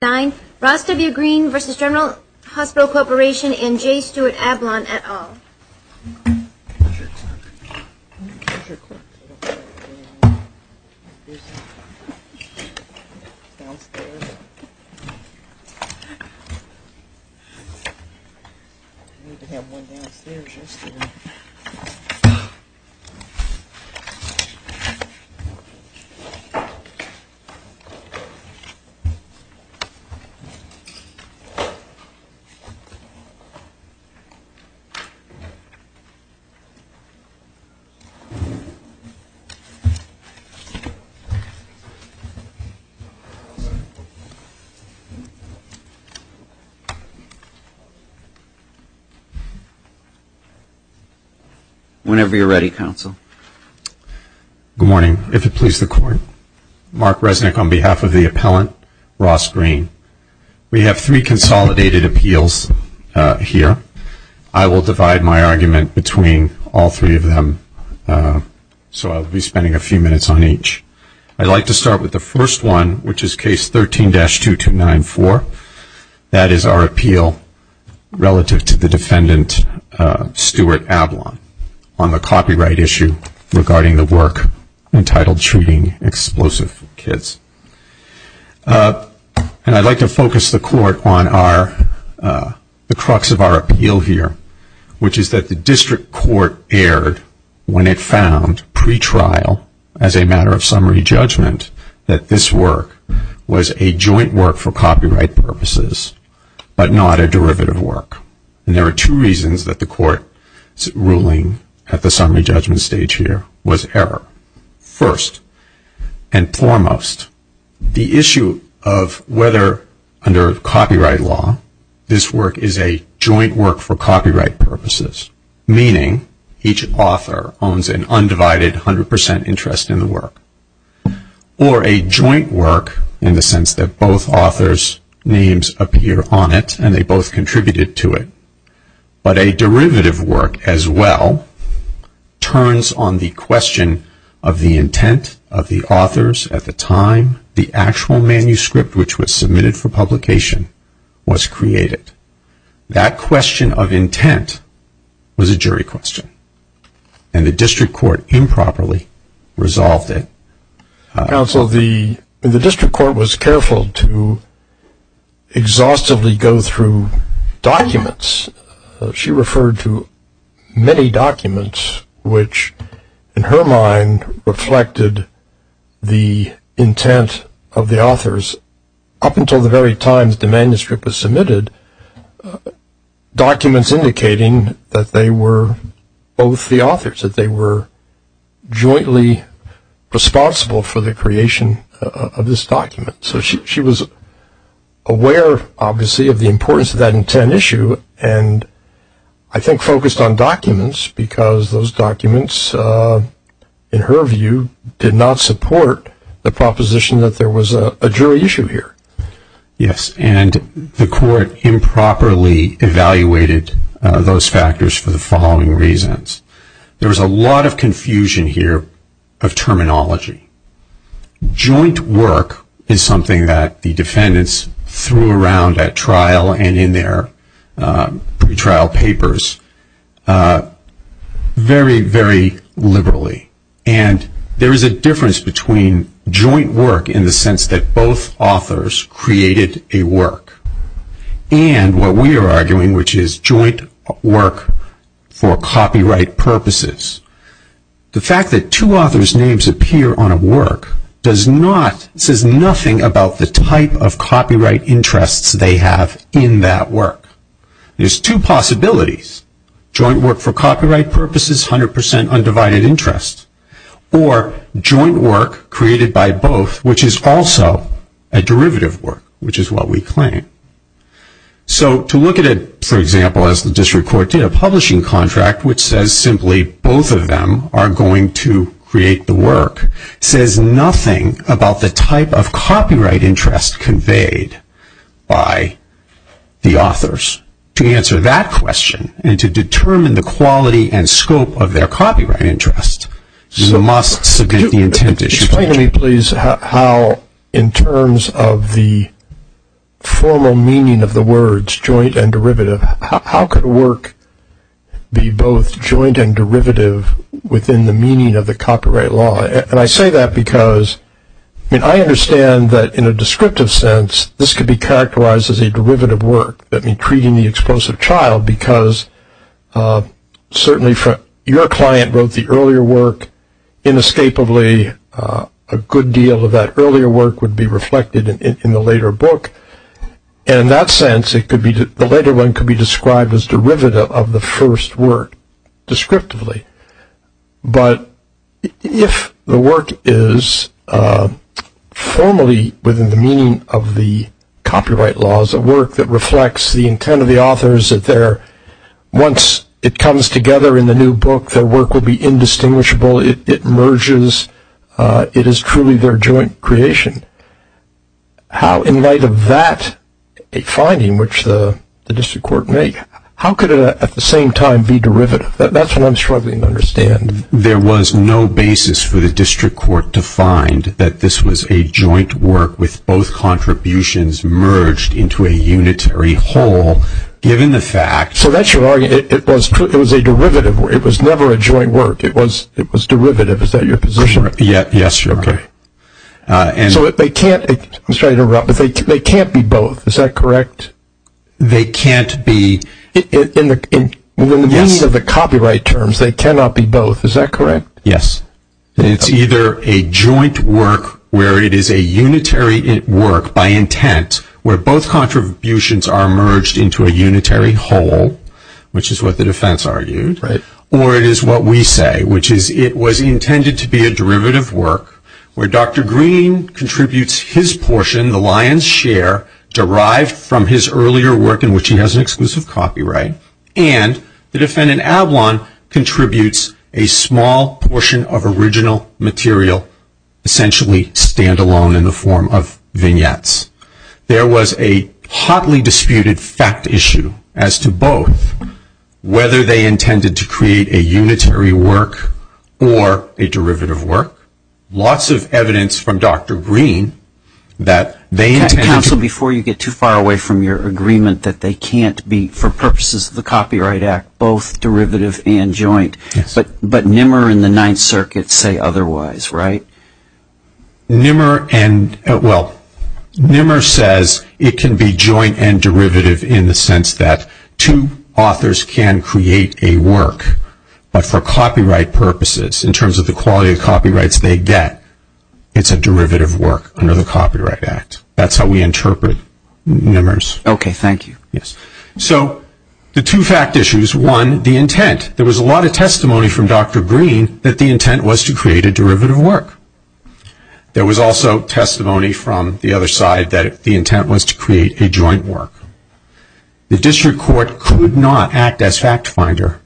and J. Stuart Ablon, et al. Whenever you're ready, Counsel. Good morning. If it please the Court, Mark Resnick on behalf of the appellant, Ross Greene. We have three consolidated appeals here. I will divide my argument between all three of them, so I'll be spending a few minutes on each. I'd like to start with the first one, which is Case 13-2294. That is our appeal relative to the defendant, Stuart Ablon, on the copyright issue regarding the work entitled Treating Explosive Kids. And I'd like to focus the Court on the crux of our appeal here, which is that the District Court erred when it found, pre-trial, as a matter of summary judgment, that this work was a joint work for copyright purposes, but not a derivative work. And there are two reasons that the Court's ruling at the summary judgment stage here was error. First and foremost, the issue of whether, under copyright law, this work is a joint work for copyright purposes, meaning each author owns an undivided 100% interest in the work, or a joint work in the sense that both authors' names appear on it and they both contributed to it. But a derivative work as well turns on the question of the intent of the authors at the time the actual manuscript, which was submitted for publication, was created. That question of intent was a jury question, and the District Court improperly resolved it. Counsel, the District Court was careful to exhaustively go through documents. She referred to many documents which, in her mind, reflected the intent of the authors up until the very time that the manuscript was submitted, documents indicating that they were both the authors, that they were jointly responsible for the creation of this document. So she was aware, obviously, of the importance of that intent issue and I think focused on documents because those documents, in her view, did not support the proposition that there was a jury issue here. Yes, and the Court improperly evaluated those factors for the following reasons. There was a lot of confusion here of terminology. Joint work is something that the defendants threw around at trial and in their pretrial papers very, very liberally. And there is a difference between joint work in the sense that both authors created a work and what we are arguing, which is joint work for copyright purposes. The fact that two authors' names appear on a work does not, says nothing about the type of copyright interests they have in that work. There's two possibilities. Joint work for copyright purposes, 100% undivided interest, or joint work created by both, which is also a derivative work, which is what we claim. So to look at it, for example, as the District Court did, a publishing contract which says simply both of them are going to create the work, says nothing about the type of copyright interest conveyed by the authors. To answer that question and to determine the quality and scope of their copyright interest, you must submit the intent issue. Explain to me, please, how in terms of the formal meaning of the words joint and derivative, how could work be both joint and derivative within the meaning of the copyright law? And I say that because, I mean, I understand that in a descriptive sense, this could be characterized as a derivative work, treating the explosive child, because certainly your client wrote the earlier work inescapably. A good deal of that earlier work would be reflected in the later book, and in that sense the later one could be described as derivative of the first work descriptively. But if the work is formally within the meaning of the copyright laws, a work that reflects the intent of the authors that once it comes together in the new book, their work will be indistinguishable, it merges, it is truly their joint creation, how in light of that finding, which the District Court made, how could it at the same time be derivative? That's what I'm struggling to understand. There was no basis for the District Court to find that this was a joint work with both contributions merged into a unitary whole, given the fact... So that's your argument, it was a derivative work, it was never a joint work, it was derivative, is that your position? Yes, sure. Okay. So they can't be both, is that correct? They can't be... In the meaning of the copyright terms, they cannot be both, is that correct? Yes. It's either a joint work where it is a unitary work by intent, where both contributions are merged into a unitary whole, which is what the defense argued, or it is what we say, which is it was intended to be a derivative work where Dr. Green contributes his portion, the lion's share, derived from his earlier work in which he has an exclusive copyright, and the defendant, Ablon, contributes a small portion of original material, essentially standalone in the form of vignettes. There was a hotly disputed fact issue as to both, whether they intended to create a unitary work or a derivative work, lots of evidence from Dr. Green that they intended to... Counsel, before you get too far away from your agreement that they can't be, for purposes of the Copyright Act, both derivative and joint, but Nimmer and the Ninth Circuit say otherwise, right? Well, Nimmer says it can be joint and derivative in the sense that two authors can create a work, but for copyright purposes, in terms of the quality of copyrights they get, it's a derivative work under the Copyright Act. That's how we interpret Nimmers. Okay, thank you. Yes. So the two fact issues, one, the intent. There was a lot of testimony from Dr. Green that the intent was to create a derivative work. There was also testimony from the other side that the intent was to create a joint work. The district court could not act as fact finder,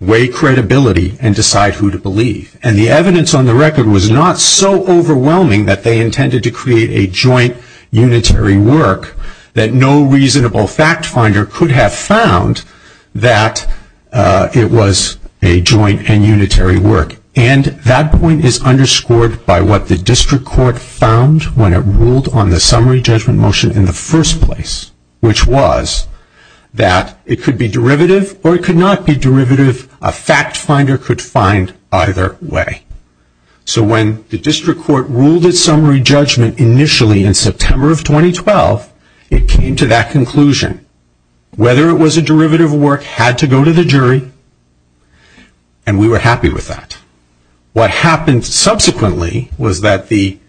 weigh credibility, and decide who to believe. And the evidence on the record was not so overwhelming that they intended to create a joint unitary work that no reasonable fact finder could have found that it was a joint and unitary work. And that point is underscored by what the district court found when it ruled on the summary judgment motion in the first place, which was that it could be derivative or it could not be derivative. A fact finder could find either way. So when the district court ruled its summary judgment initially in September of 2012, it came to that conclusion. Whether it was a derivative work had to go to the jury, and we were happy with that. What happened subsequently was that the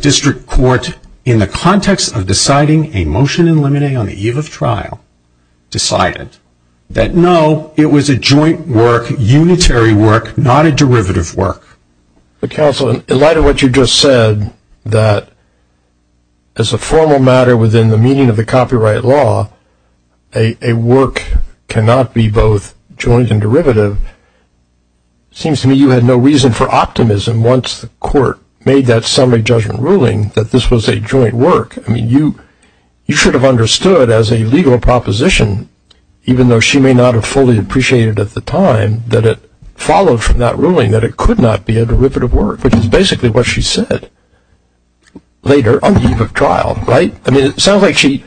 district court, in the context of deciding a motion in limine on the eve of trial, decided that, no, it was a joint work, unitary work, not a derivative work. Counsel, in light of what you just said, that as a formal matter within the meaning of the copyright law, a work cannot be both joint and derivative, it seems to me you had no reason for optimism once the court made that summary judgment ruling that this was a joint work. I mean, you should have understood as a legal proposition, even though she may not have fully appreciated at the time, that it followed from that ruling that it could not be a derivative work, which is basically what she said later on the eve of trial, right? I mean, it sounds like she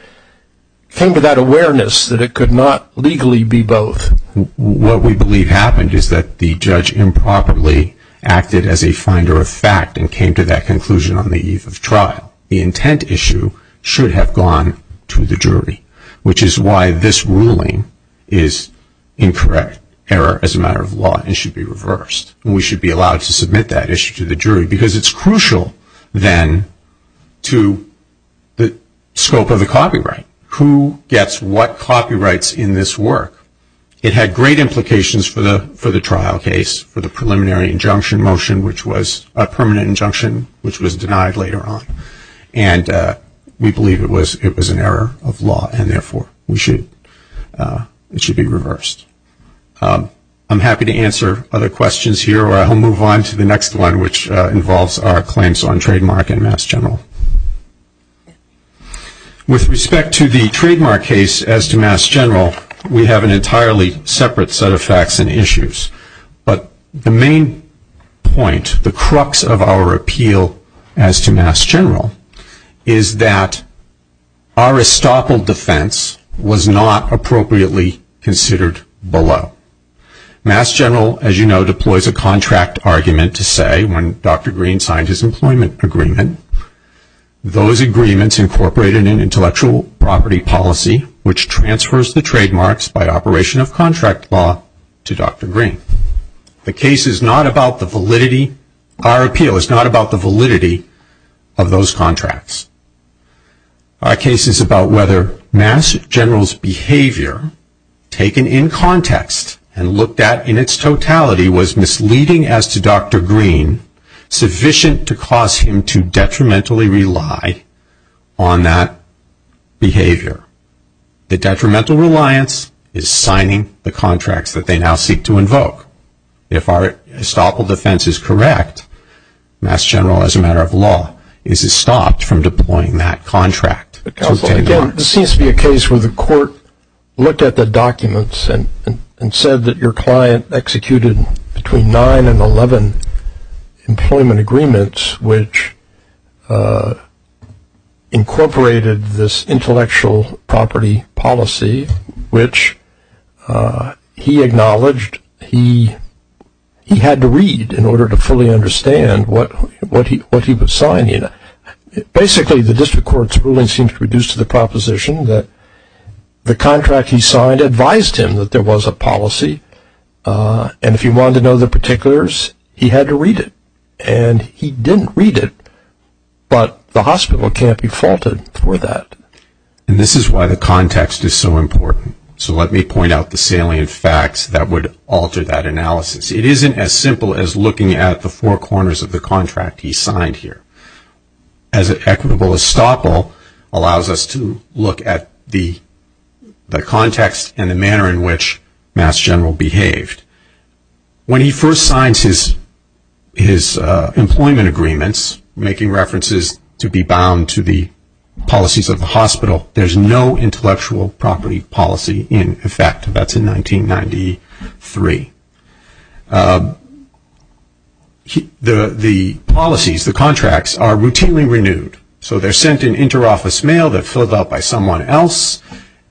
came to that awareness that it could not legally be both. What we believe happened is that the judge improperly acted as a finder of fact and came to that conclusion on the eve of trial. The intent issue should have gone to the jury, which is why this ruling is incorrect, error as a matter of law, and should be reversed. And we should be allowed to submit that issue to the jury, because it's crucial then to the scope of the copyright. Who gets what copyrights in this work? It had great implications for the trial case, for the preliminary injunction motion, which was a permanent injunction, which was denied later on. And we believe it was an error of law, and therefore it should be reversed. I'm happy to answer other questions here, or I'll move on to the next one, which involves our claims on trademark and mass general. With respect to the trademark case as to mass general, we have an entirely separate set of facts and issues. But the main point, the crux of our appeal as to mass general, is that our estoppel defense was not appropriately considered below. Mass general, as you know, deploys a contract argument to say, when Dr. Green signed his employment agreement, those agreements incorporated an intellectual property policy, which transfers the trademarks by operation of contract law to Dr. Green. The case is not about the validity. Our appeal is not about the validity of those contracts. Our case is about whether mass general's behavior, taken in context, and looked at in its totality, was misleading as to Dr. Green, sufficient to cause him to detrimentally rely on that behavior. The detrimental reliance is signing the contracts that they now seek to invoke. If our estoppel defense is correct, mass general, as a matter of law, is stopped from deploying that contract. Counsel, again, this seems to be a case where the court looked at the documents and said that your client executed between nine and 11 employment agreements, which incorporated this intellectual property policy, which he acknowledged he had to read in order to fully understand what he was signing. Basically, the district court's ruling seems to reduce to the proposition that the contract he signed advised him that there was a policy, and if he wanted to know the particulars, he had to read it. And he didn't read it, but the hospital can't be faulted for that. And this is why the context is so important. So let me point out the salient facts that would alter that analysis. It isn't as simple as looking at the four corners of the contract he signed here. As an equitable estoppel allows us to look at the context and the manner in which mass general behaved. When he first signs his employment agreements, making references to be bound to the policies of the hospital, there's no intellectual property policy in effect. That's in 1993. The policies, the contracts, are routinely renewed. So they're sent in inter-office mail that's filled out by someone else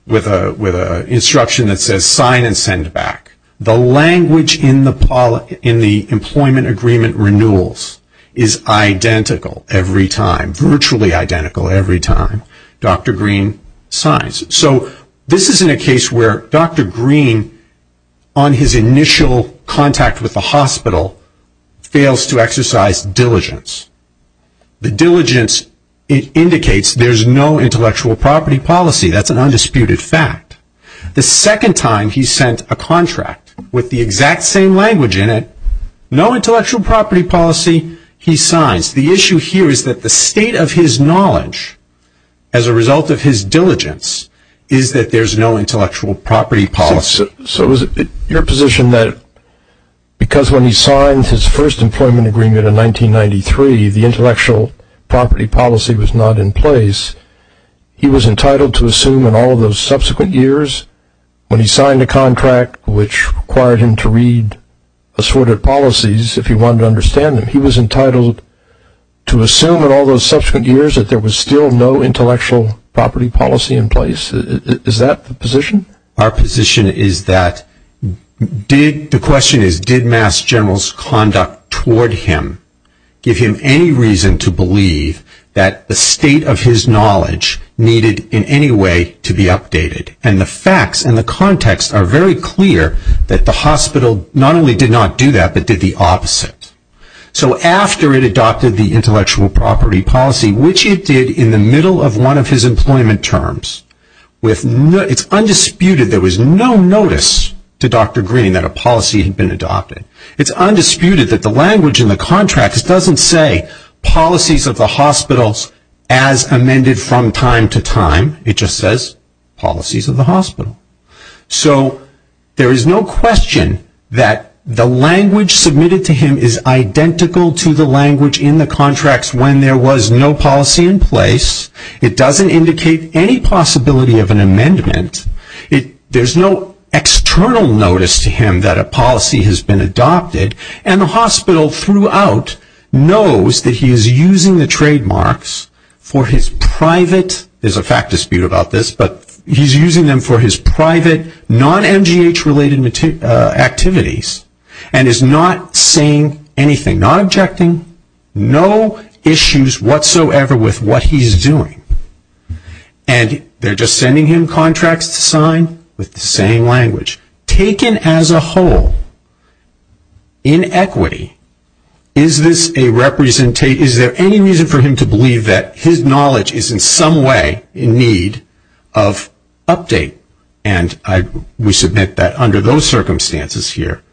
with an instruction that says sign and send back. The language in the employment agreement renewals is identical every time, virtually identical every time Dr. Green signs. So this isn't a case where Dr. Green, on his initial contact with the hospital, fails to exercise diligence. The diligence indicates there's no intellectual property policy. That's an undisputed fact. The second time he sent a contract with the exact same language in it, no intellectual property policy, he signs. The issue here is that the state of his knowledge as a result of his diligence is that there's no intellectual property policy. So is it your position that because when he signs his first employment agreement in 1993, the intellectual property policy was not in place, he was entitled to assume in all of those subsequent years, when he signed a contract which required him to read assorted policies, if he wanted to understand them, he was entitled to assume in all those subsequent years that there was still no intellectual property policy in place? Is that the position? Our position is that the question is did Mass. General's conduct toward him give him any reason to believe that the state of his knowledge needed in any way to be updated? And the facts and the context are very clear that the hospital not only did not do that, but did the opposite. So after it adopted the intellectual property policy, which it did in the middle of one of his employment terms, it's undisputed there was no notice to Dr. Green that a policy had been adopted. It's undisputed that the language in the contracts doesn't say policies of the hospitals as amended from time to time. It just says policies of the hospital. So there is no question that the language submitted to him is identical to the language in the contracts when there was no policy in place. It doesn't indicate any possibility of an amendment. There's no external notice to him that a policy has been adopted. And the hospital throughout knows that he is using the trademarks for his private, there's a fact dispute about this, but he's using them for his private non-MGH related activities and is not saying anything, not objecting, no issues whatsoever with what he's doing. And they're just sending him contracts to sign with the same language. Taken as a whole, in equity, is this a representation, is there any reason for him to believe that his knowledge is in some way in need of update? And we submit that under those circumstances here,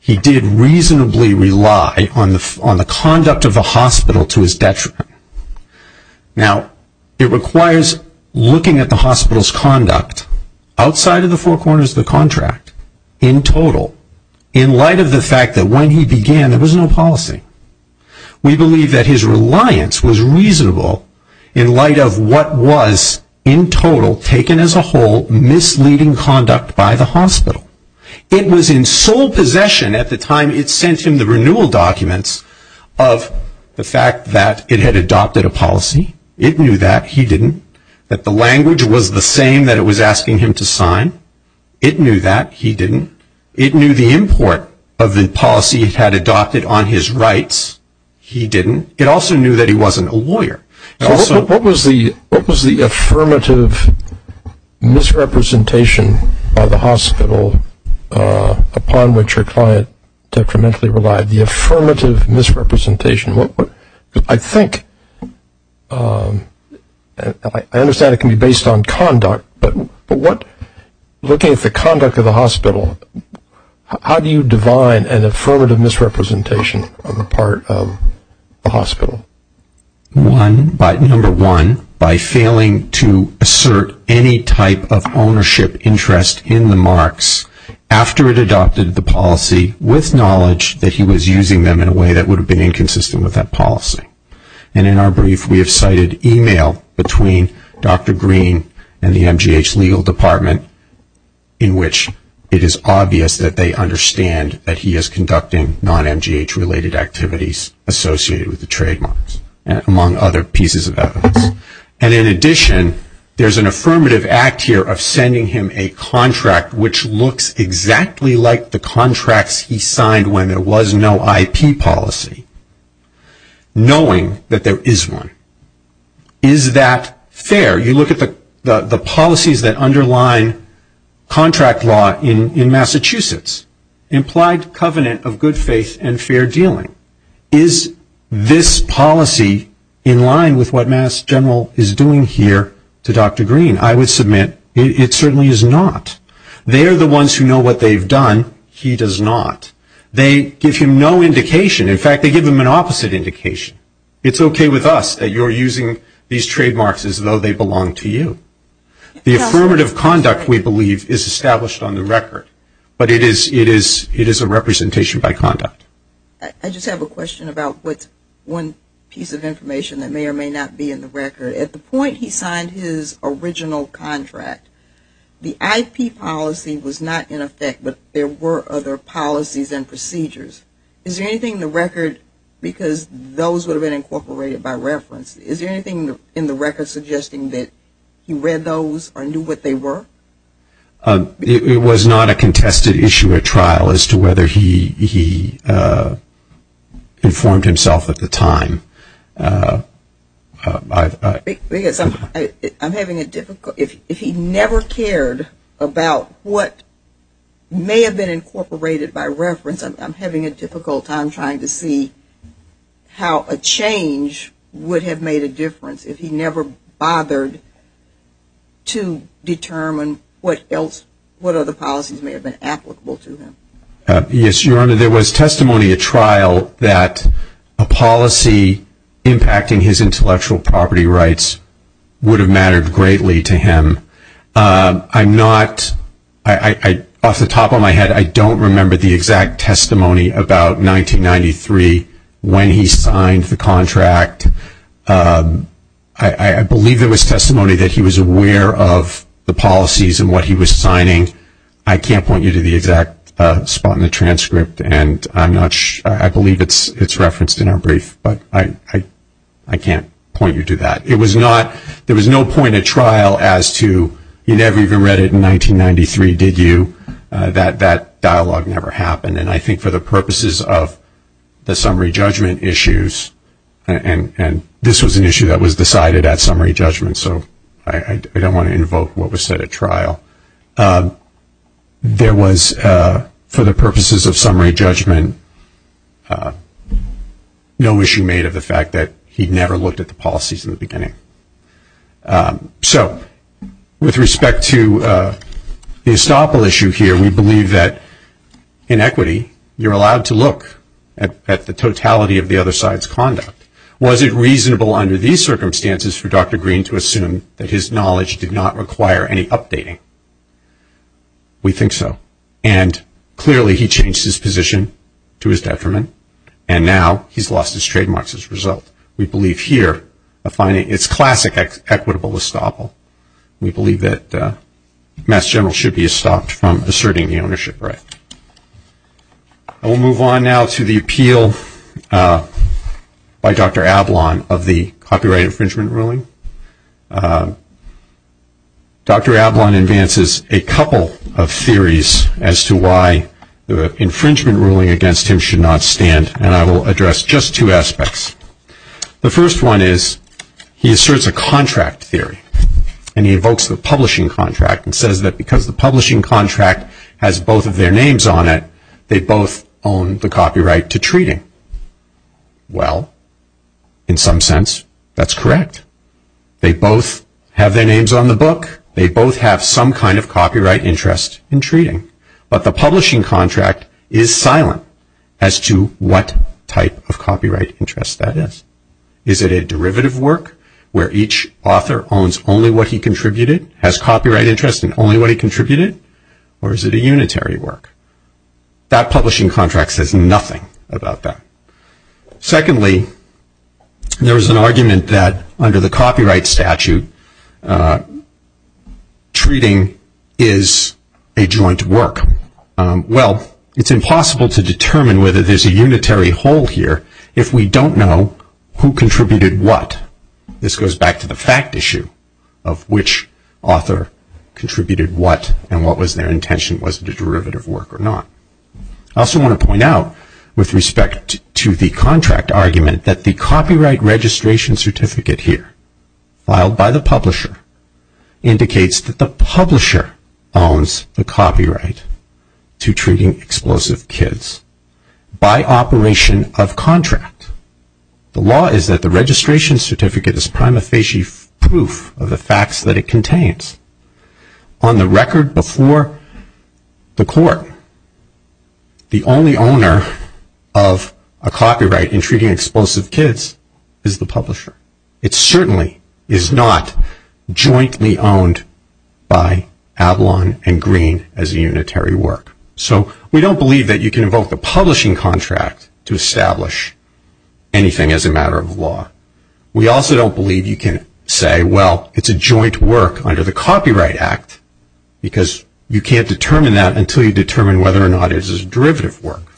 he did reasonably rely on the conduct of the hospital to his detriment. Now, it requires looking at the hospital's conduct, outside of the four corners of the contract, in total, in light of the fact that when he began, there was no policy. We believe that his reliance was reasonable in light of what was, in total, taken as a whole, misleading conduct by the hospital. It was in sole possession at the time it sent him the renewal documents of the fact that it had adopted a policy. It knew that. He didn't. That the language was the same that it was asking him to sign. It knew that. He didn't. It knew the import of the policy it had adopted on his rights. He didn't. It also knew that he wasn't a lawyer. What was the affirmative misrepresentation by the hospital, upon which your client detrimentally relied? The affirmative misrepresentation. I think, I understand it can be based on conduct, but looking at the conduct of the hospital, how do you divine an affirmative misrepresentation on the part of the hospital? One, number one, by failing to assert any type of ownership interest in the marks after it adopted the policy with knowledge that he was using them in a way that would have been inconsistent with that policy. And in our brief, we have cited email between Dr. Green and the MGH legal department in which it is obvious that they understand that he is conducting non-MGH related activities associated with the trademarks, among other pieces of evidence. And in addition, there's an affirmative act here of sending him a contract which looks exactly like the contracts he signed when there was no IP policy, knowing that there is one. Is that fair? You look at the policies that underline contract law in Massachusetts, implied covenant of good faith and fair dealing. Is this policy in line with what Mass General is doing here to Dr. Green? I would submit it certainly is not. They are the ones who know what they've done. He does not. They give him no indication. In fact, they give him an opposite indication. It's okay with us that you're using these trademarks as though they belong to you. The affirmative conduct, we believe, is established on the record, but it is a representation by conduct. I just have a question about one piece of information that may or may not be in the record. At the point he signed his original contract, the IP policy was not in effect, but there were other policies and procedures. Is there anything in the record, because those would have been incorporated by reference, is there anything in the record suggesting that he read those or knew what they were? It was not a contested issue at trial as to whether he informed himself at the time. I'm having a difficult time. If he never cared about what may have been incorporated by reference, I'm having a difficult time trying to see how a change would have made a difference if he never bothered to determine what other policies may have been applicable to him. Yes, Your Honor, there was testimony at trial that a policy impacting his intellectual property rights would have mattered greatly to him. Off the top of my head, I don't remember the exact testimony about 1993 when he signed the contract. I believe there was testimony that he was aware of the policies and what he was signing. I can't point you to the exact spot in the transcript, and I believe it's referenced in our brief, but I can't point you to that. There was no point at trial as to, you never even read it in 1993, did you? That dialogue never happened, and I think for the purposes of the summary judgment issues, and this was an issue that was decided at summary judgment, so I don't want to invoke what was said at trial. There was, for the purposes of summary judgment, no issue made of the fact that he never looked at the policies in the beginning. So with respect to the estoppel issue here, we believe that in equity, you're allowed to look at the totality of the other side's conduct. Was it reasonable under these circumstances for Dr. Green to assume that his knowledge did not require any updating? We think so, and clearly he changed his position to his detriment, and now he's lost his trademarks as a result. We believe here, it's classic equitable estoppel. We believe that Mass General should be estopped from asserting the ownership right. I will move on now to the appeal by Dr. Ablon of the copyright infringement ruling. Dr. Ablon advances a couple of theories as to why the infringement ruling against him should not stand, and I will address just two aspects. The first one is, he asserts a contract theory, and he evokes the publishing contract and says that because the publishing contract has both of their names on it, they both own the copyright to treating. Well, in some sense, that's correct. They both have their names on the book. They both have some kind of copyright interest in treating, but the publishing contract is silent as to what type of copyright interest that is. Is it a derivative work where each author owns only what he contributed, has copyright interest in only what he contributed, or is it a unitary work? That publishing contract says nothing about that. Secondly, there is an argument that under the copyright statute, treating is a joint work. Well, it's impossible to determine whether there's a unitary whole here if we don't know who contributed what. This goes back to the fact issue of which author contributed what and what was their intention, was it a derivative work or not. I also want to point out, with respect to the contract argument, that the copyright registration certificate here, filed by the publisher, indicates that the publisher owns the copyright to treating explosive kids by operation of contract. The law is that the registration certificate is prima facie proof of the facts that it contains. On the record before the court, the only owner of a copyright in treating explosive kids is the publisher. It certainly is not jointly owned by Avalon and Green as a unitary work. So we don't believe that you can invoke the publishing contract to establish anything as a matter of law. We also don't believe you can say, well, it's a joint work under the copyright act, because you can't determine that until you determine whether or not it is a derivative work.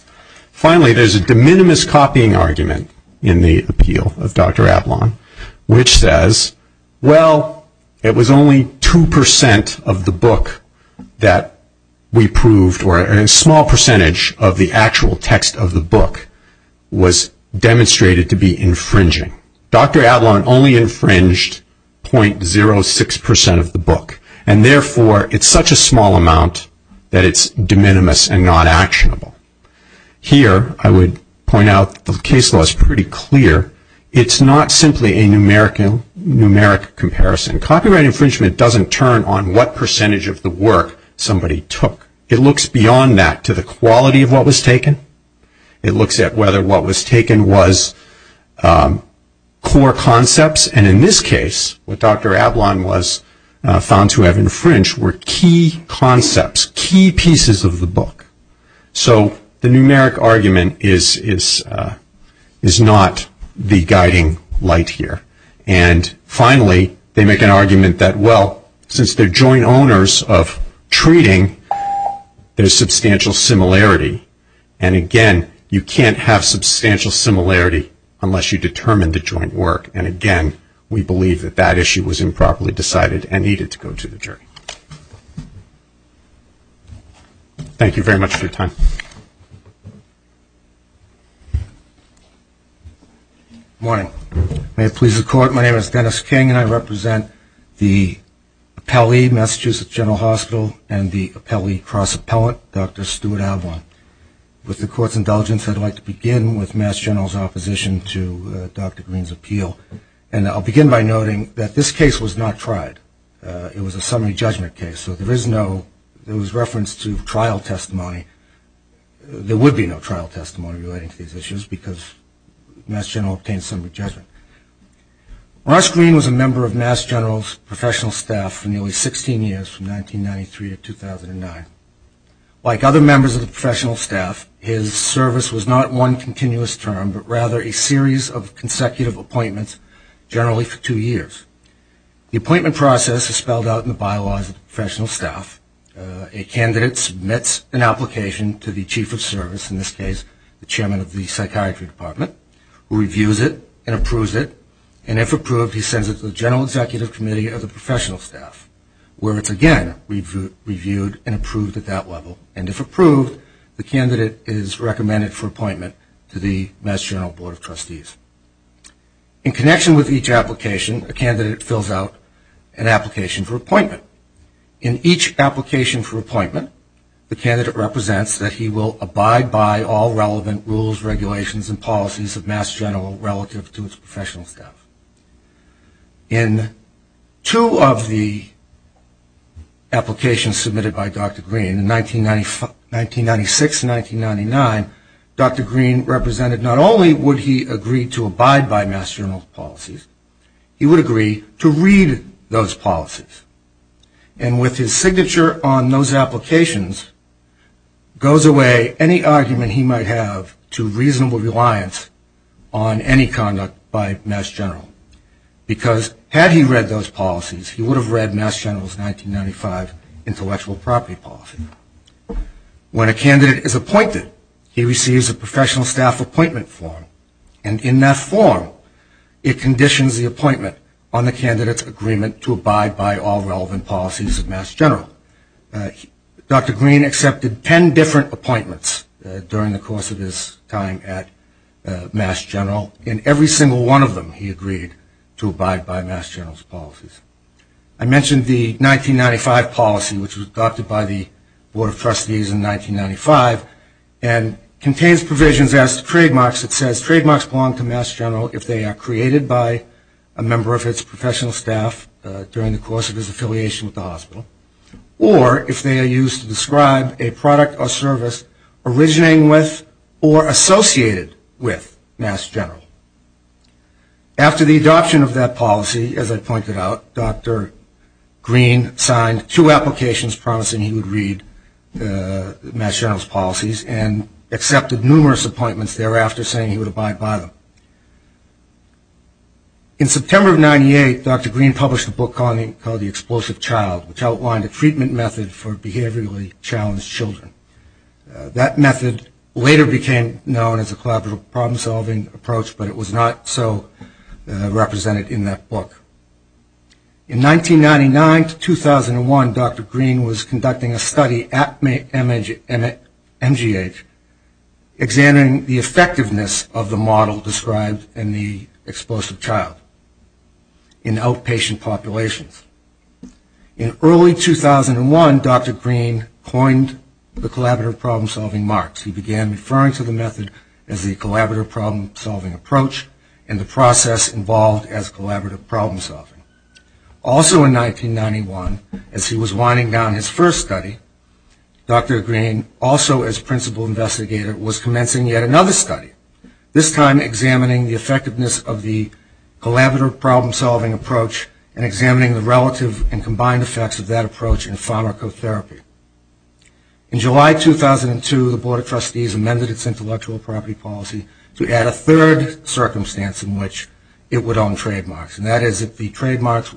Finally, there's a de minimis copying argument in the appeal of Dr. Avalon, which says, well, it was only 2% of the book that we proved, or a small percentage of the actual text of the book was demonstrated to be infringing. Dr. Avalon only infringed .06% of the book, and therefore it's such a small amount that it's de minimis and not actionable. Here, I would point out that the case law is pretty clear. It's not simply a numeric comparison. Copyright infringement doesn't turn on what percentage of the work somebody took. It looks beyond that to the quality of what was taken. It looks at whether what was taken was core concepts, and in this case, what Dr. Avalon was found to have infringed were key concepts, key pieces of the book. So the numeric argument is not the guiding light here. Finally, they make an argument that, well, since they're joint owners of treating, there's substantial similarity, and again, you can't have substantial similarity unless you determine the joint work, and again, we believe that that issue was improperly decided and needed to go to the jury. Thank you very much for your time. Good morning. May it please the Court, my name is Dennis King, and I represent the appellee, Massachusetts General Hospital, and the appellee cross-appellant, Dr. Stuart Avalon. With the Court's indulgence, I'd like to begin with Mass General's opposition to Dr. Green's appeal, and I'll begin by noting that this case was not tried. It was a summary judgment case. There was reference to trial testimony. There would be no trial testimony relating to these issues because Mass General obtained a summary judgment. Ross Green was a member of Mass General's professional staff for nearly 16 years, from 1993 to 2009. Like other members of the professional staff, his service was not one continuous term, but rather a series of consecutive appointments, generally for two years. The appointment process is spelled out in the bylaws of the professional staff. A candidate submits an application to the chief of service, in this case the chairman of the psychiatry department, who reviews it and approves it, and if approved, he sends it to the general executive committee of the professional staff, where it's again reviewed and approved at that level, and if approved, the candidate is recommended for appointment to the Mass General Board of Trustees. In connection with each application, a candidate fills out an application for appointment. In each application for appointment, the candidate represents that he will abide by all relevant rules, regulations, and policies of Mass General relative to his professional staff. In two of the applications submitted by Dr. Green, in 1996 and 1999, Dr. Green represented not only would he agree to abide by Mass General policies, he would agree to read those policies, and with his signature on those applications goes away any argument he might have to reasonable reliance on any conduct by Mass General, because had he read those policies, he would have read Mass General's 1995 intellectual property policy. When a candidate is appointed, he receives a professional staff appointment form, and in that form it conditions the appointment on the candidate's agreement to abide by all relevant policies of Mass General. Dr. Green accepted ten different appointments during the course of his time at Mass General, and every single one of them he agreed to abide by Mass General's policies. I mentioned the 1995 policy, which was adopted by the Board of Trustees in 1995, and contains provisions as to trademarks. It says trademarks belong to Mass General if they are created by a member of its professional staff during the course of his affiliation with the hospital, or if they are used to describe a product or service originating with or associated with Mass General. After the adoption of that policy, as I pointed out, Dr. Green signed two applications promising he would read Mass General's policies and accepted numerous appointments thereafter saying he would abide by them. In September of 1998, Dr. Green published a book called The Explosive Child, which outlined a treatment method for behaviorally challenged children. That method later became known as a collaborative problem-solving approach, but it was not so represented in that book. In 1999 to 2001, Dr. Green was conducting a study at MGH examining the effectiveness of the model described in The Explosive Child in outpatient populations. In early 2001, Dr. Green coined the collaborative problem-solving mark. He began referring to the method as the collaborative problem-solving approach and the process involved as collaborative problem-solving. Also in 1991, as he was winding down his first study, Dr. Green, also as principal investigator, was commencing yet another study, this time examining the effectiveness of the collaborative problem-solving approach and examining the relative and combined effects of that approach in pharmacotherapy. In July 2002, the Board of Trustees amended its intellectual property policy to add a third circumstance in which it would own trademarks, and that is if the trademarks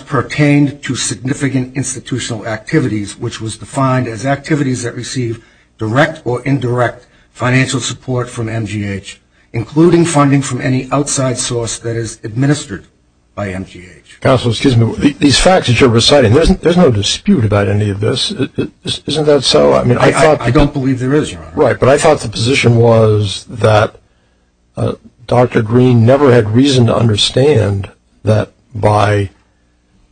pertained to significant institutional activities, which was defined as activities that receive direct or indirect financial support from MGH, including funding from any outside source that is administered by MGH. Counsel, excuse me. These facts that you're reciting, there's no dispute about any of this. Isn't that so? I don't believe there is, Your Honor. Right, but I thought the position was that Dr. Green never had reason to understand that by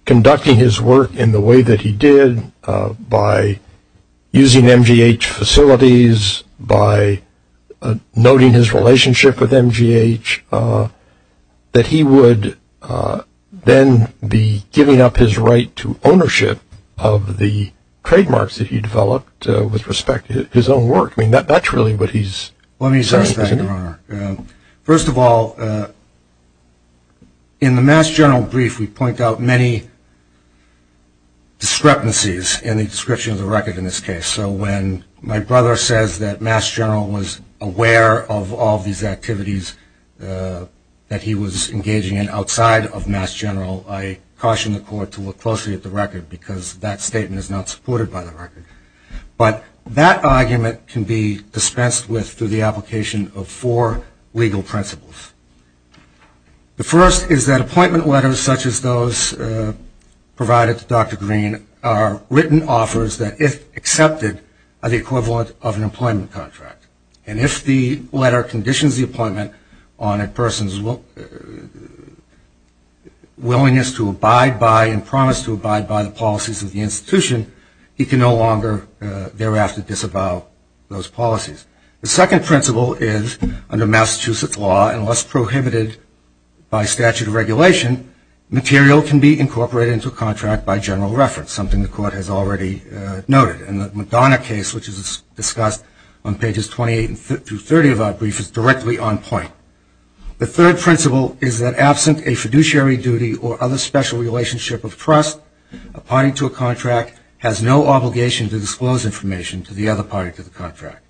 conducting his work in the way that he did, by using MGH facilities, by noting his relationship with MGH, that he would then be giving up his right to ownership of the trademarks that he developed with respect to his own work. I mean, that's really what he's saying, isn't it? In the Mass General brief, we point out many discrepancies in the description of the record in this case. So when my brother says that Mass General was aware of all these activities that he was engaging in outside of Mass General, I caution the Court to look closely at the record because that statement is not supported by the record. But that argument can be dispensed with through the application of four legal principles. The first is that appointment letters such as those provided to Dr. Green are written offers that, if accepted, are the equivalent of an employment contract. And if the letter conditions the appointment on a person's willingness to abide by and promise to abide by the policies of the institution, he can no longer thereafter disavow those policies. The second principle is, under Massachusetts law, unless prohibited by statute of regulation, material can be incorporated into a contract by general reference, something the Court has already noted. And the McDonough case, which is discussed on pages 28 through 30 of our brief, is directly on point. The third principle is that, absent a fiduciary duty or other special relationship of trust, a party to a contract has no obligation to disclose information to the other party to the contract.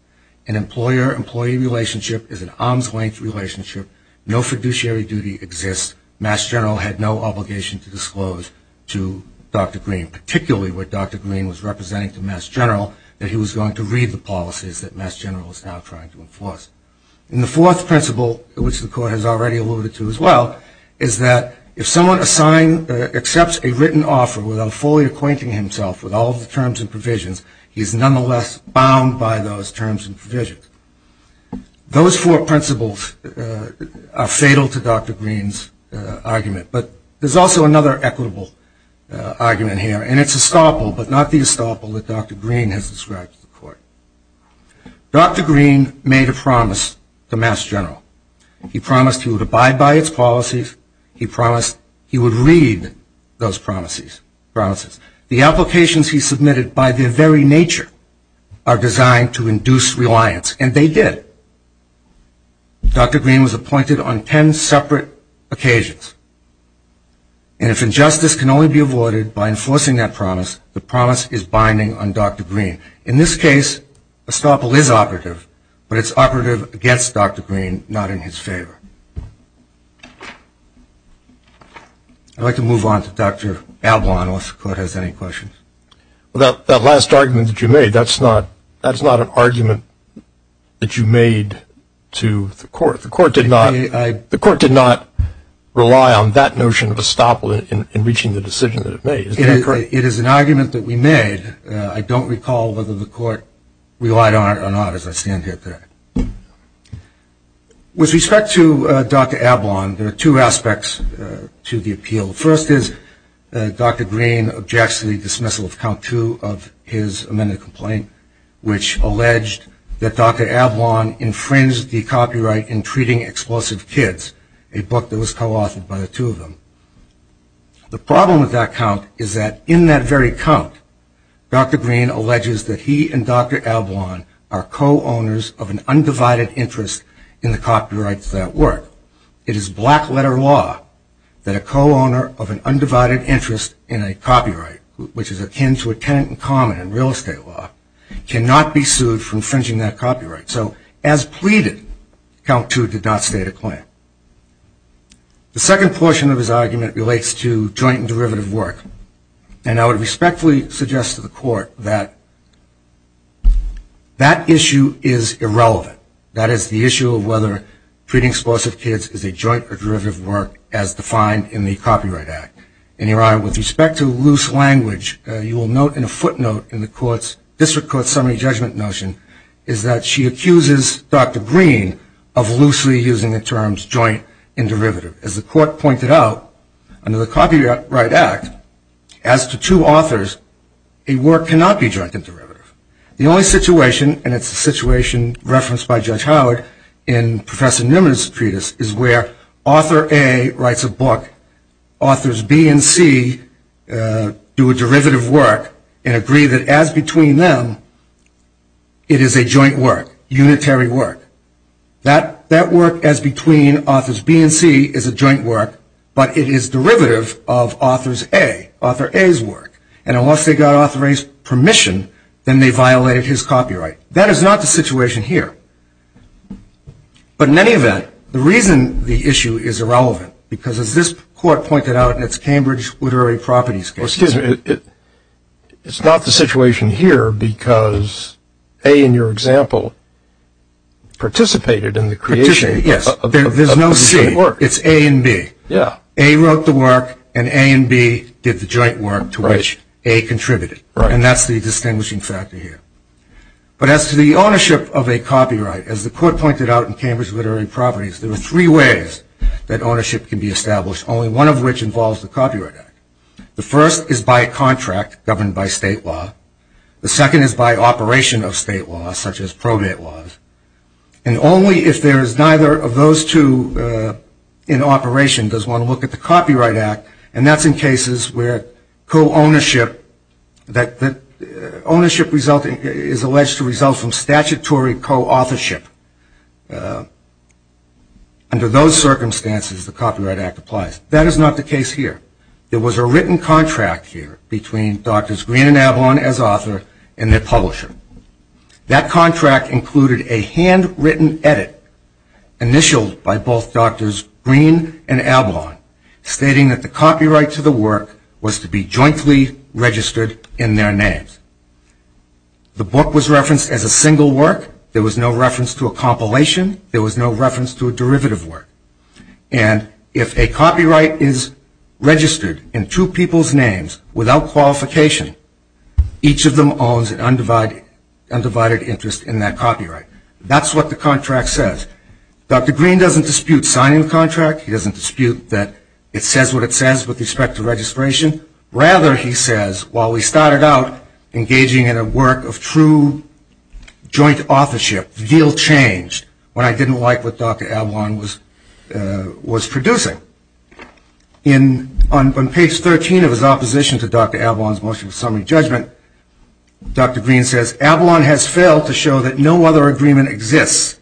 An employer-employee relationship is an arm's-length relationship. No fiduciary duty exists. Mass General had no obligation to disclose to Dr. Green, particularly where Dr. Green was representing to Mass General, that he was going to read the policies that Mass General was now trying to enforce. And the fourth principle, which the Court has already alluded to as well, is that if someone accepts a written offer without fully acquainting himself with all the terms and provisions, he is nonetheless bound by those terms and provisions. Those four principles are fatal to Dr. Green's argument. But there's also another equitable argument here, and it's estoppel, but not the estoppel that Dr. Green has described to the Court. Dr. Green made a promise to Mass General. He promised he would abide by its policies. He promised he would read those promises. The applications he submitted, by their very nature, are designed to induce reliance, and they did. Dr. Green was appointed on ten separate occasions. And if injustice can only be avoided by enforcing that promise, the promise is binding on Dr. Green. In this case, estoppel is operative, but it's operative against Dr. Green, not in his favor. I'd like to move on to Dr. Ablon, unless the Court has any questions. Well, that last argument that you made, that's not an argument that you made to the Court. The Court did not rely on that notion of estoppel in reaching the decision that it made. Is that correct? It is an argument that we made. I don't recall whether the Court relied on it or not as I stand here today. With respect to Dr. Ablon, there are two aspects to the appeal. The first is Dr. Green objects to the dismissal of count two of his amended complaint, which alleged that Dr. Ablon infringed the copyright in treating explosive kids, a book that was co-authored by the two of them. The problem with that count is that in that very count, Dr. Green alleges that he and Dr. Ablon are co-owners of an undivided interest in the copyrights that work. It is black letter law that a co-owner of an undivided interest in a copyright, which is akin to a tenant in common in real estate law, cannot be sued for infringing that copyright. So as pleaded, count two did not state a claim. The second portion of his argument relates to joint and derivative work, and I would respectfully suggest to the Court that that issue is irrelevant. That is, the issue of whether treating explosive kids is a joint or derivative work as defined in the Copyright Act. In your honor, with respect to loose language, you will note in a footnote in the District Court's summary judgment notion is that she accuses Dr. Green of loosely using the terms joint and derivative. As the Court pointed out, under the Copyright Act, as to two authors, a work cannot be joint and derivative. The only situation, and it's a situation referenced by Judge Howard in Professor Newman's treatise, is where author A writes a book, authors B and C do a derivative work, and agree that as between them, it is a joint work, unitary work. That work as between authors B and C is a joint work, but it is derivative of author A's work. And unless they got author A's permission, then they violated his copyright. That is not the situation here. But in any event, the reason the issue is irrelevant, because as this Court pointed out in its Cambridge Literary Properties case. Well, excuse me. It's not the situation here because A, in your example, participated in the creation. Participated, yes. There's no C. It's A and B. Yeah. A wrote the work, and A and B did the joint work to which A contributed. Right. And that's the distinguishing factor here. But as to the ownership of a copyright, as the Court pointed out in Cambridge Literary Properties, there are three ways that ownership can be established, only one of which involves the Copyright Act. The first is by a contract governed by state law. The second is by operation of state law, such as probate laws. And only if there is neither of those two in operation does one look at the Copyright Act, and that's in cases where ownership is alleged to result from statutory co-authorship. Under those circumstances, the Copyright Act applies. That is not the case here. There was a written contract here between Drs. Green and Avalon as author and their publisher. That contract included a handwritten edit initialed by both Drs. Green and Avalon, stating that the copyright to the work was to be jointly registered in their names. The book was referenced as a single work. There was no reference to a compilation. There was no reference to a derivative work. And if a copyright is registered in two people's names without qualification, each of them owns an undivided interest in that copyright. That's what the contract says. Dr. Green doesn't dispute signing the contract. He doesn't dispute that it says what it says with respect to registration. Rather, he says, while we started out engaging in a work of true joint authorship, the deal changed when I didn't like what Dr. Avalon was producing. On page 13 of his opposition to Dr. Avalon's motion of summary judgment, Dr. Green says, Avalon has failed to show that no other agreement exists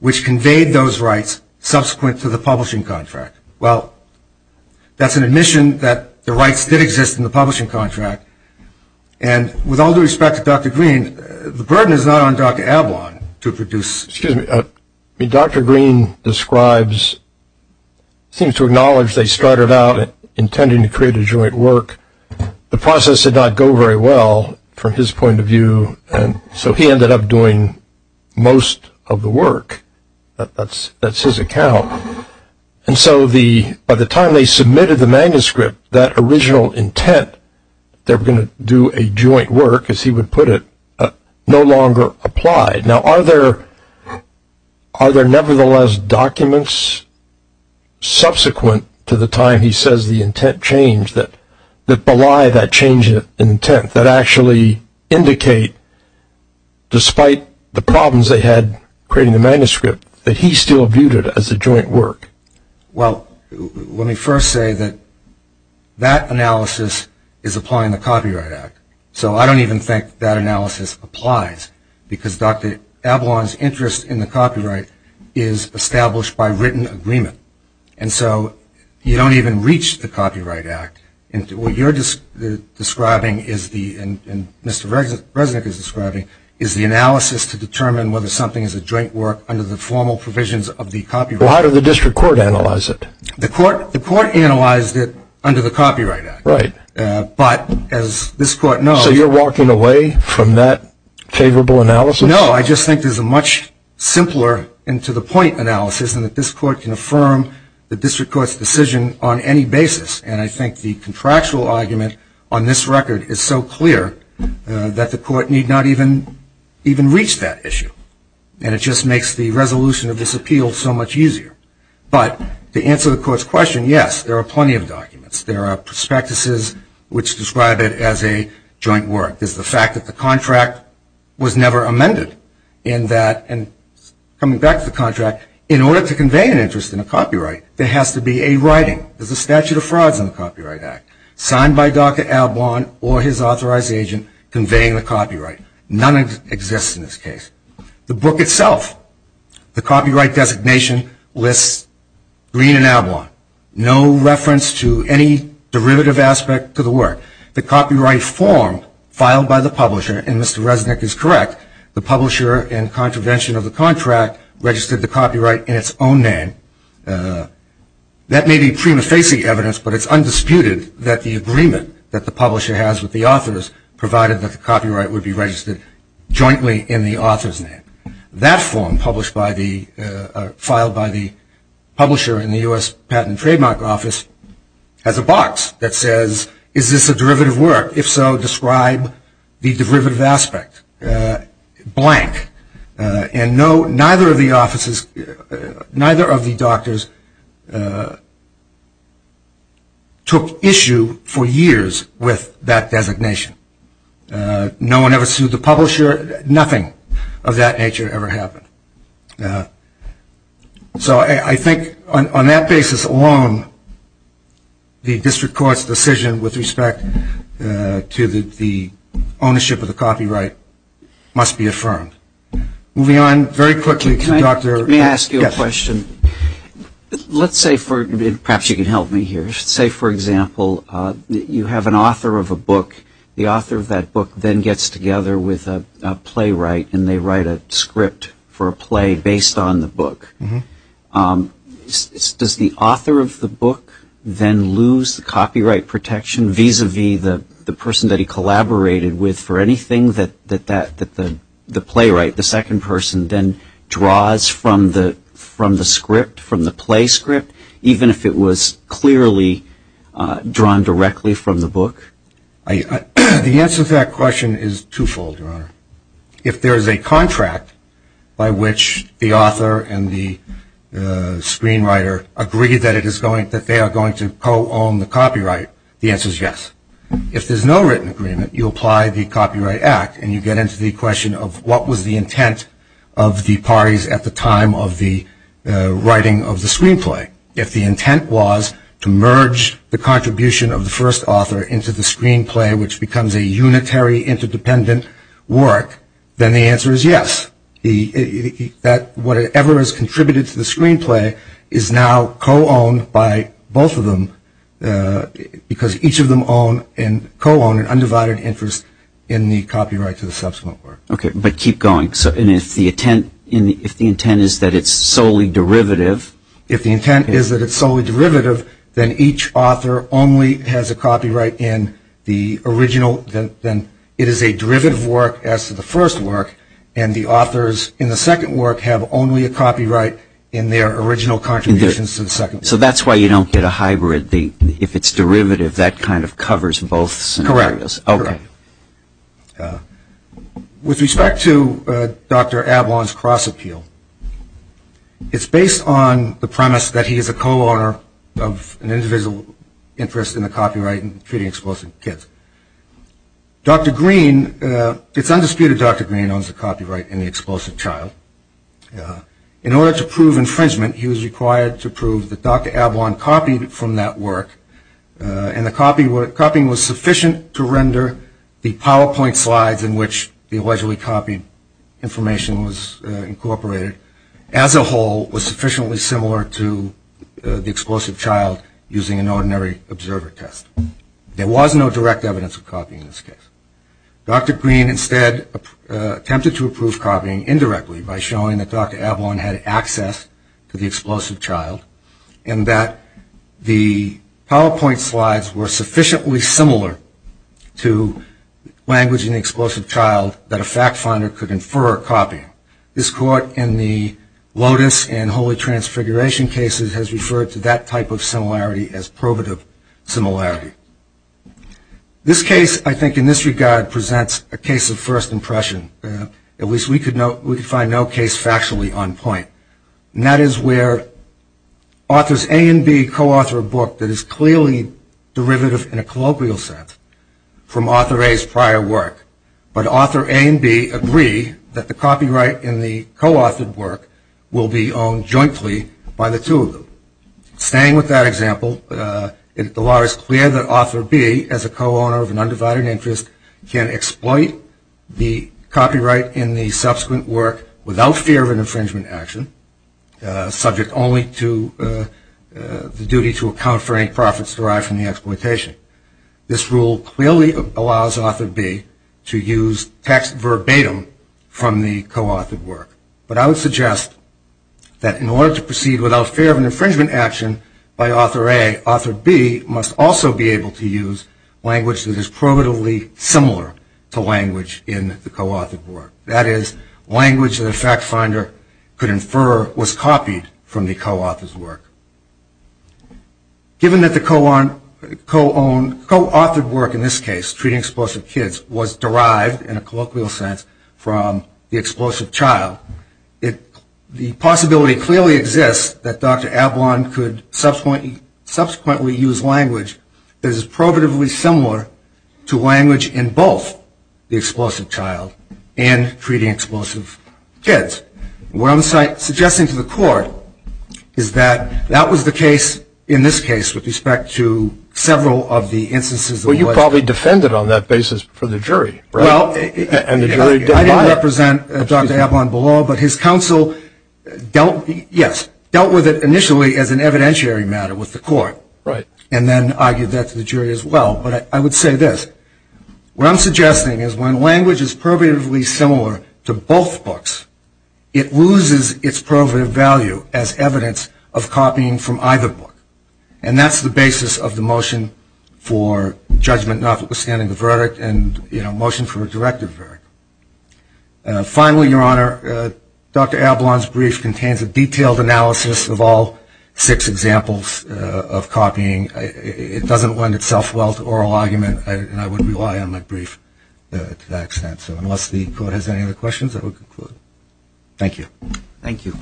which conveyed those rights subsequent to the publishing contract. Well, that's an admission that the rights did exist in the publishing contract. And with all due respect to Dr. Green, the burden is not on Dr. Avalon to produce. Excuse me. I mean, Dr. Green seems to acknowledge they started out intending to create a joint work. The process did not go very well from his point of view, and so he ended up doing most of the work. That's his account. And so by the time they submitted the manuscript, that original intent, they were going to do a joint work, as he would put it, no longer applied. Now, are there nevertheless documents subsequent to the time he says the intent changed that belie that change in intent that actually indicate, despite the problems they had creating the manuscript, that he still viewed it as a joint work? Well, let me first say that that analysis is applying the Copyright Act. So I don't even think that analysis applies because Dr. Avalon's interest in the copyright is established by written agreement. And so you don't even reach the Copyright Act. What you're describing is the, and Mr. Resnick is describing, is the analysis to determine whether something is a joint work under the formal provisions of the Copyright Act. Why did the district court analyze it? The court analyzed it under the Copyright Act. Right. But as this court knows So you're walking away from that favorable analysis? No, I just think there's a much simpler and to the point analysis in that this court can affirm the district court's decision on any basis. And I think the contractual argument on this record is so clear that the court need not even reach that issue. And it just makes the resolution of this appeal so much easier. But to answer the court's question, yes, there are plenty of documents. There are prospectuses which describe it as a joint work. There's the fact that the contract was never amended in that, and coming back to the contract, in order to convey an interest in a copyright, there has to be a writing, there's a statute of frauds in the Copyright Act, signed by Dr. Ablon or his authorized agent conveying the copyright. None exists in this case. The book itself, the copyright designation lists Green and Ablon. No reference to any derivative aspect to the work. The copyright form filed by the publisher, and Mr. Resnick is correct, the publisher, in contravention of the contract, registered the copyright in its own name. That may be prima facie evidence, but it's undisputed that the agreement that the publisher has with the authors, provided that the copyright would be registered jointly in the author's name. That form filed by the publisher in the U.S. Patent and Trademark Office has a box that says, is this a derivative work? If so, describe the derivative aspect. Blank. And neither of the offices, neither of the doctors took issue for years with that designation. No one ever sued the publisher. Nothing of that nature ever happened. So I think on that basis alone, the district court's decision with respect to the ownership of the copyright must be affirmed. Moving on, very quickly to Dr. Let me ask you a question. Let's say, perhaps you can help me here. Say, for example, you have an author of a book. The author of that book then gets together with a playwright and they write a script for a play based on the book. Does the author of the book then lose the copyright protection, vis-a-vis the person that he collaborated with for anything that the playwright, the second person, then draws from the script, from the play script, even if it was clearly drawn directly from the book? The answer to that question is twofold, Your Honor. If there is a contract by which the author and the screenwriter agree that they are going to co-own the copyright, the answer is yes. If there's no written agreement, you apply the Copyright Act, and you get into the question of what was the intent of the parties at the time of the writing of the screenplay. If the intent was to merge the contribution of the first author into the screenplay, which becomes a unitary, interdependent work, then the answer is yes. That whatever has contributed to the screenplay is now co-owned by both of them because each of them own and co-own an undivided interest in the copyright to the subsequent work. Okay, but keep going. And if the intent is that it's solely derivative? If the intent is that it's solely derivative, then each author only has a copyright in the original. It is a derivative work as to the first work, and the authors in the second work have only a copyright in their original contributions to the second work. So that's why you don't get a hybrid. If it's derivative, that kind of covers both scenarios. Correct. Okay. With respect to Dr. Avalon's cross-appeal, it's based on the premise that he is a co-owner of an individual interest in the copyright in Treating Explosive Kids. Dr. Green, it's undisputed Dr. Green owns the copyright in The Explosive Child. In order to prove infringement, he was required to prove that Dr. Avalon copied from that work, and the copying was sufficient to render the PowerPoint slides in which the allegedly copied information was incorporated as a whole was sufficiently similar to The Explosive Child using an ordinary observer test. There was no direct evidence of copying in this case. Dr. Green instead attempted to approve copying indirectly by showing that Dr. Avalon had access to The Explosive Child and that the PowerPoint slides were sufficiently similar to language in The Explosive Child that a fact finder could infer a copy. This court in the Lotus and Holy Transfiguration cases has referred to that type of similarity as provative similarity. This case, I think in this regard, presents a case of first impression. At least we could find no case factually on point. And that is where authors A and B co-author a book that is clearly derivative in a colloquial sense from author A's prior work, but author A and B agree that the copyright in the co-authored work will be owned jointly by the two of them. Staying with that example, the law is clear that author B, as a co-owner of an undivided interest, can exploit the copyright in the subsequent work without fear of an infringement action, subject only to the duty to account for any profits derived from the exploitation. This rule clearly allows author B to use text verbatim from the co-authored work. But I would suggest that in order to proceed without fear of an infringement action by author A, author B must also be able to use language that is provatively similar to language in the co-authored work. That is, language that a fact finder could infer was copied from the co-author's work. Given that the co-authored work in this case, treating explosive kids, was derived in a colloquial sense from the explosive child, the possibility clearly exists that Dr. Ablon could subsequently use language that is probatively similar to language in both the explosive child and treating explosive kids. What I'm suggesting to the court is that that was the case in this case with respect to several of the instances. Well, you probably defended on that basis for the jury, right? Well, I didn't represent Dr. Ablon below, but his counsel dealt with it initially as an evidentiary matter with the court. And then argued that to the jury as well. But I would say this. What I'm suggesting is when language is probatively similar to both books, it loses its probative value as evidence of copying from either book. And that's the basis of the motion for judgment notwithstanding the verdict and motion for a directive verdict. Finally, Your Honor, Dr. Ablon's brief contains a detailed analysis of all six examples of copying. It doesn't lend itself well to oral argument, and I wouldn't rely on my brief to that extent. So unless the court has any other questions, I will conclude. Thank you. Thank you.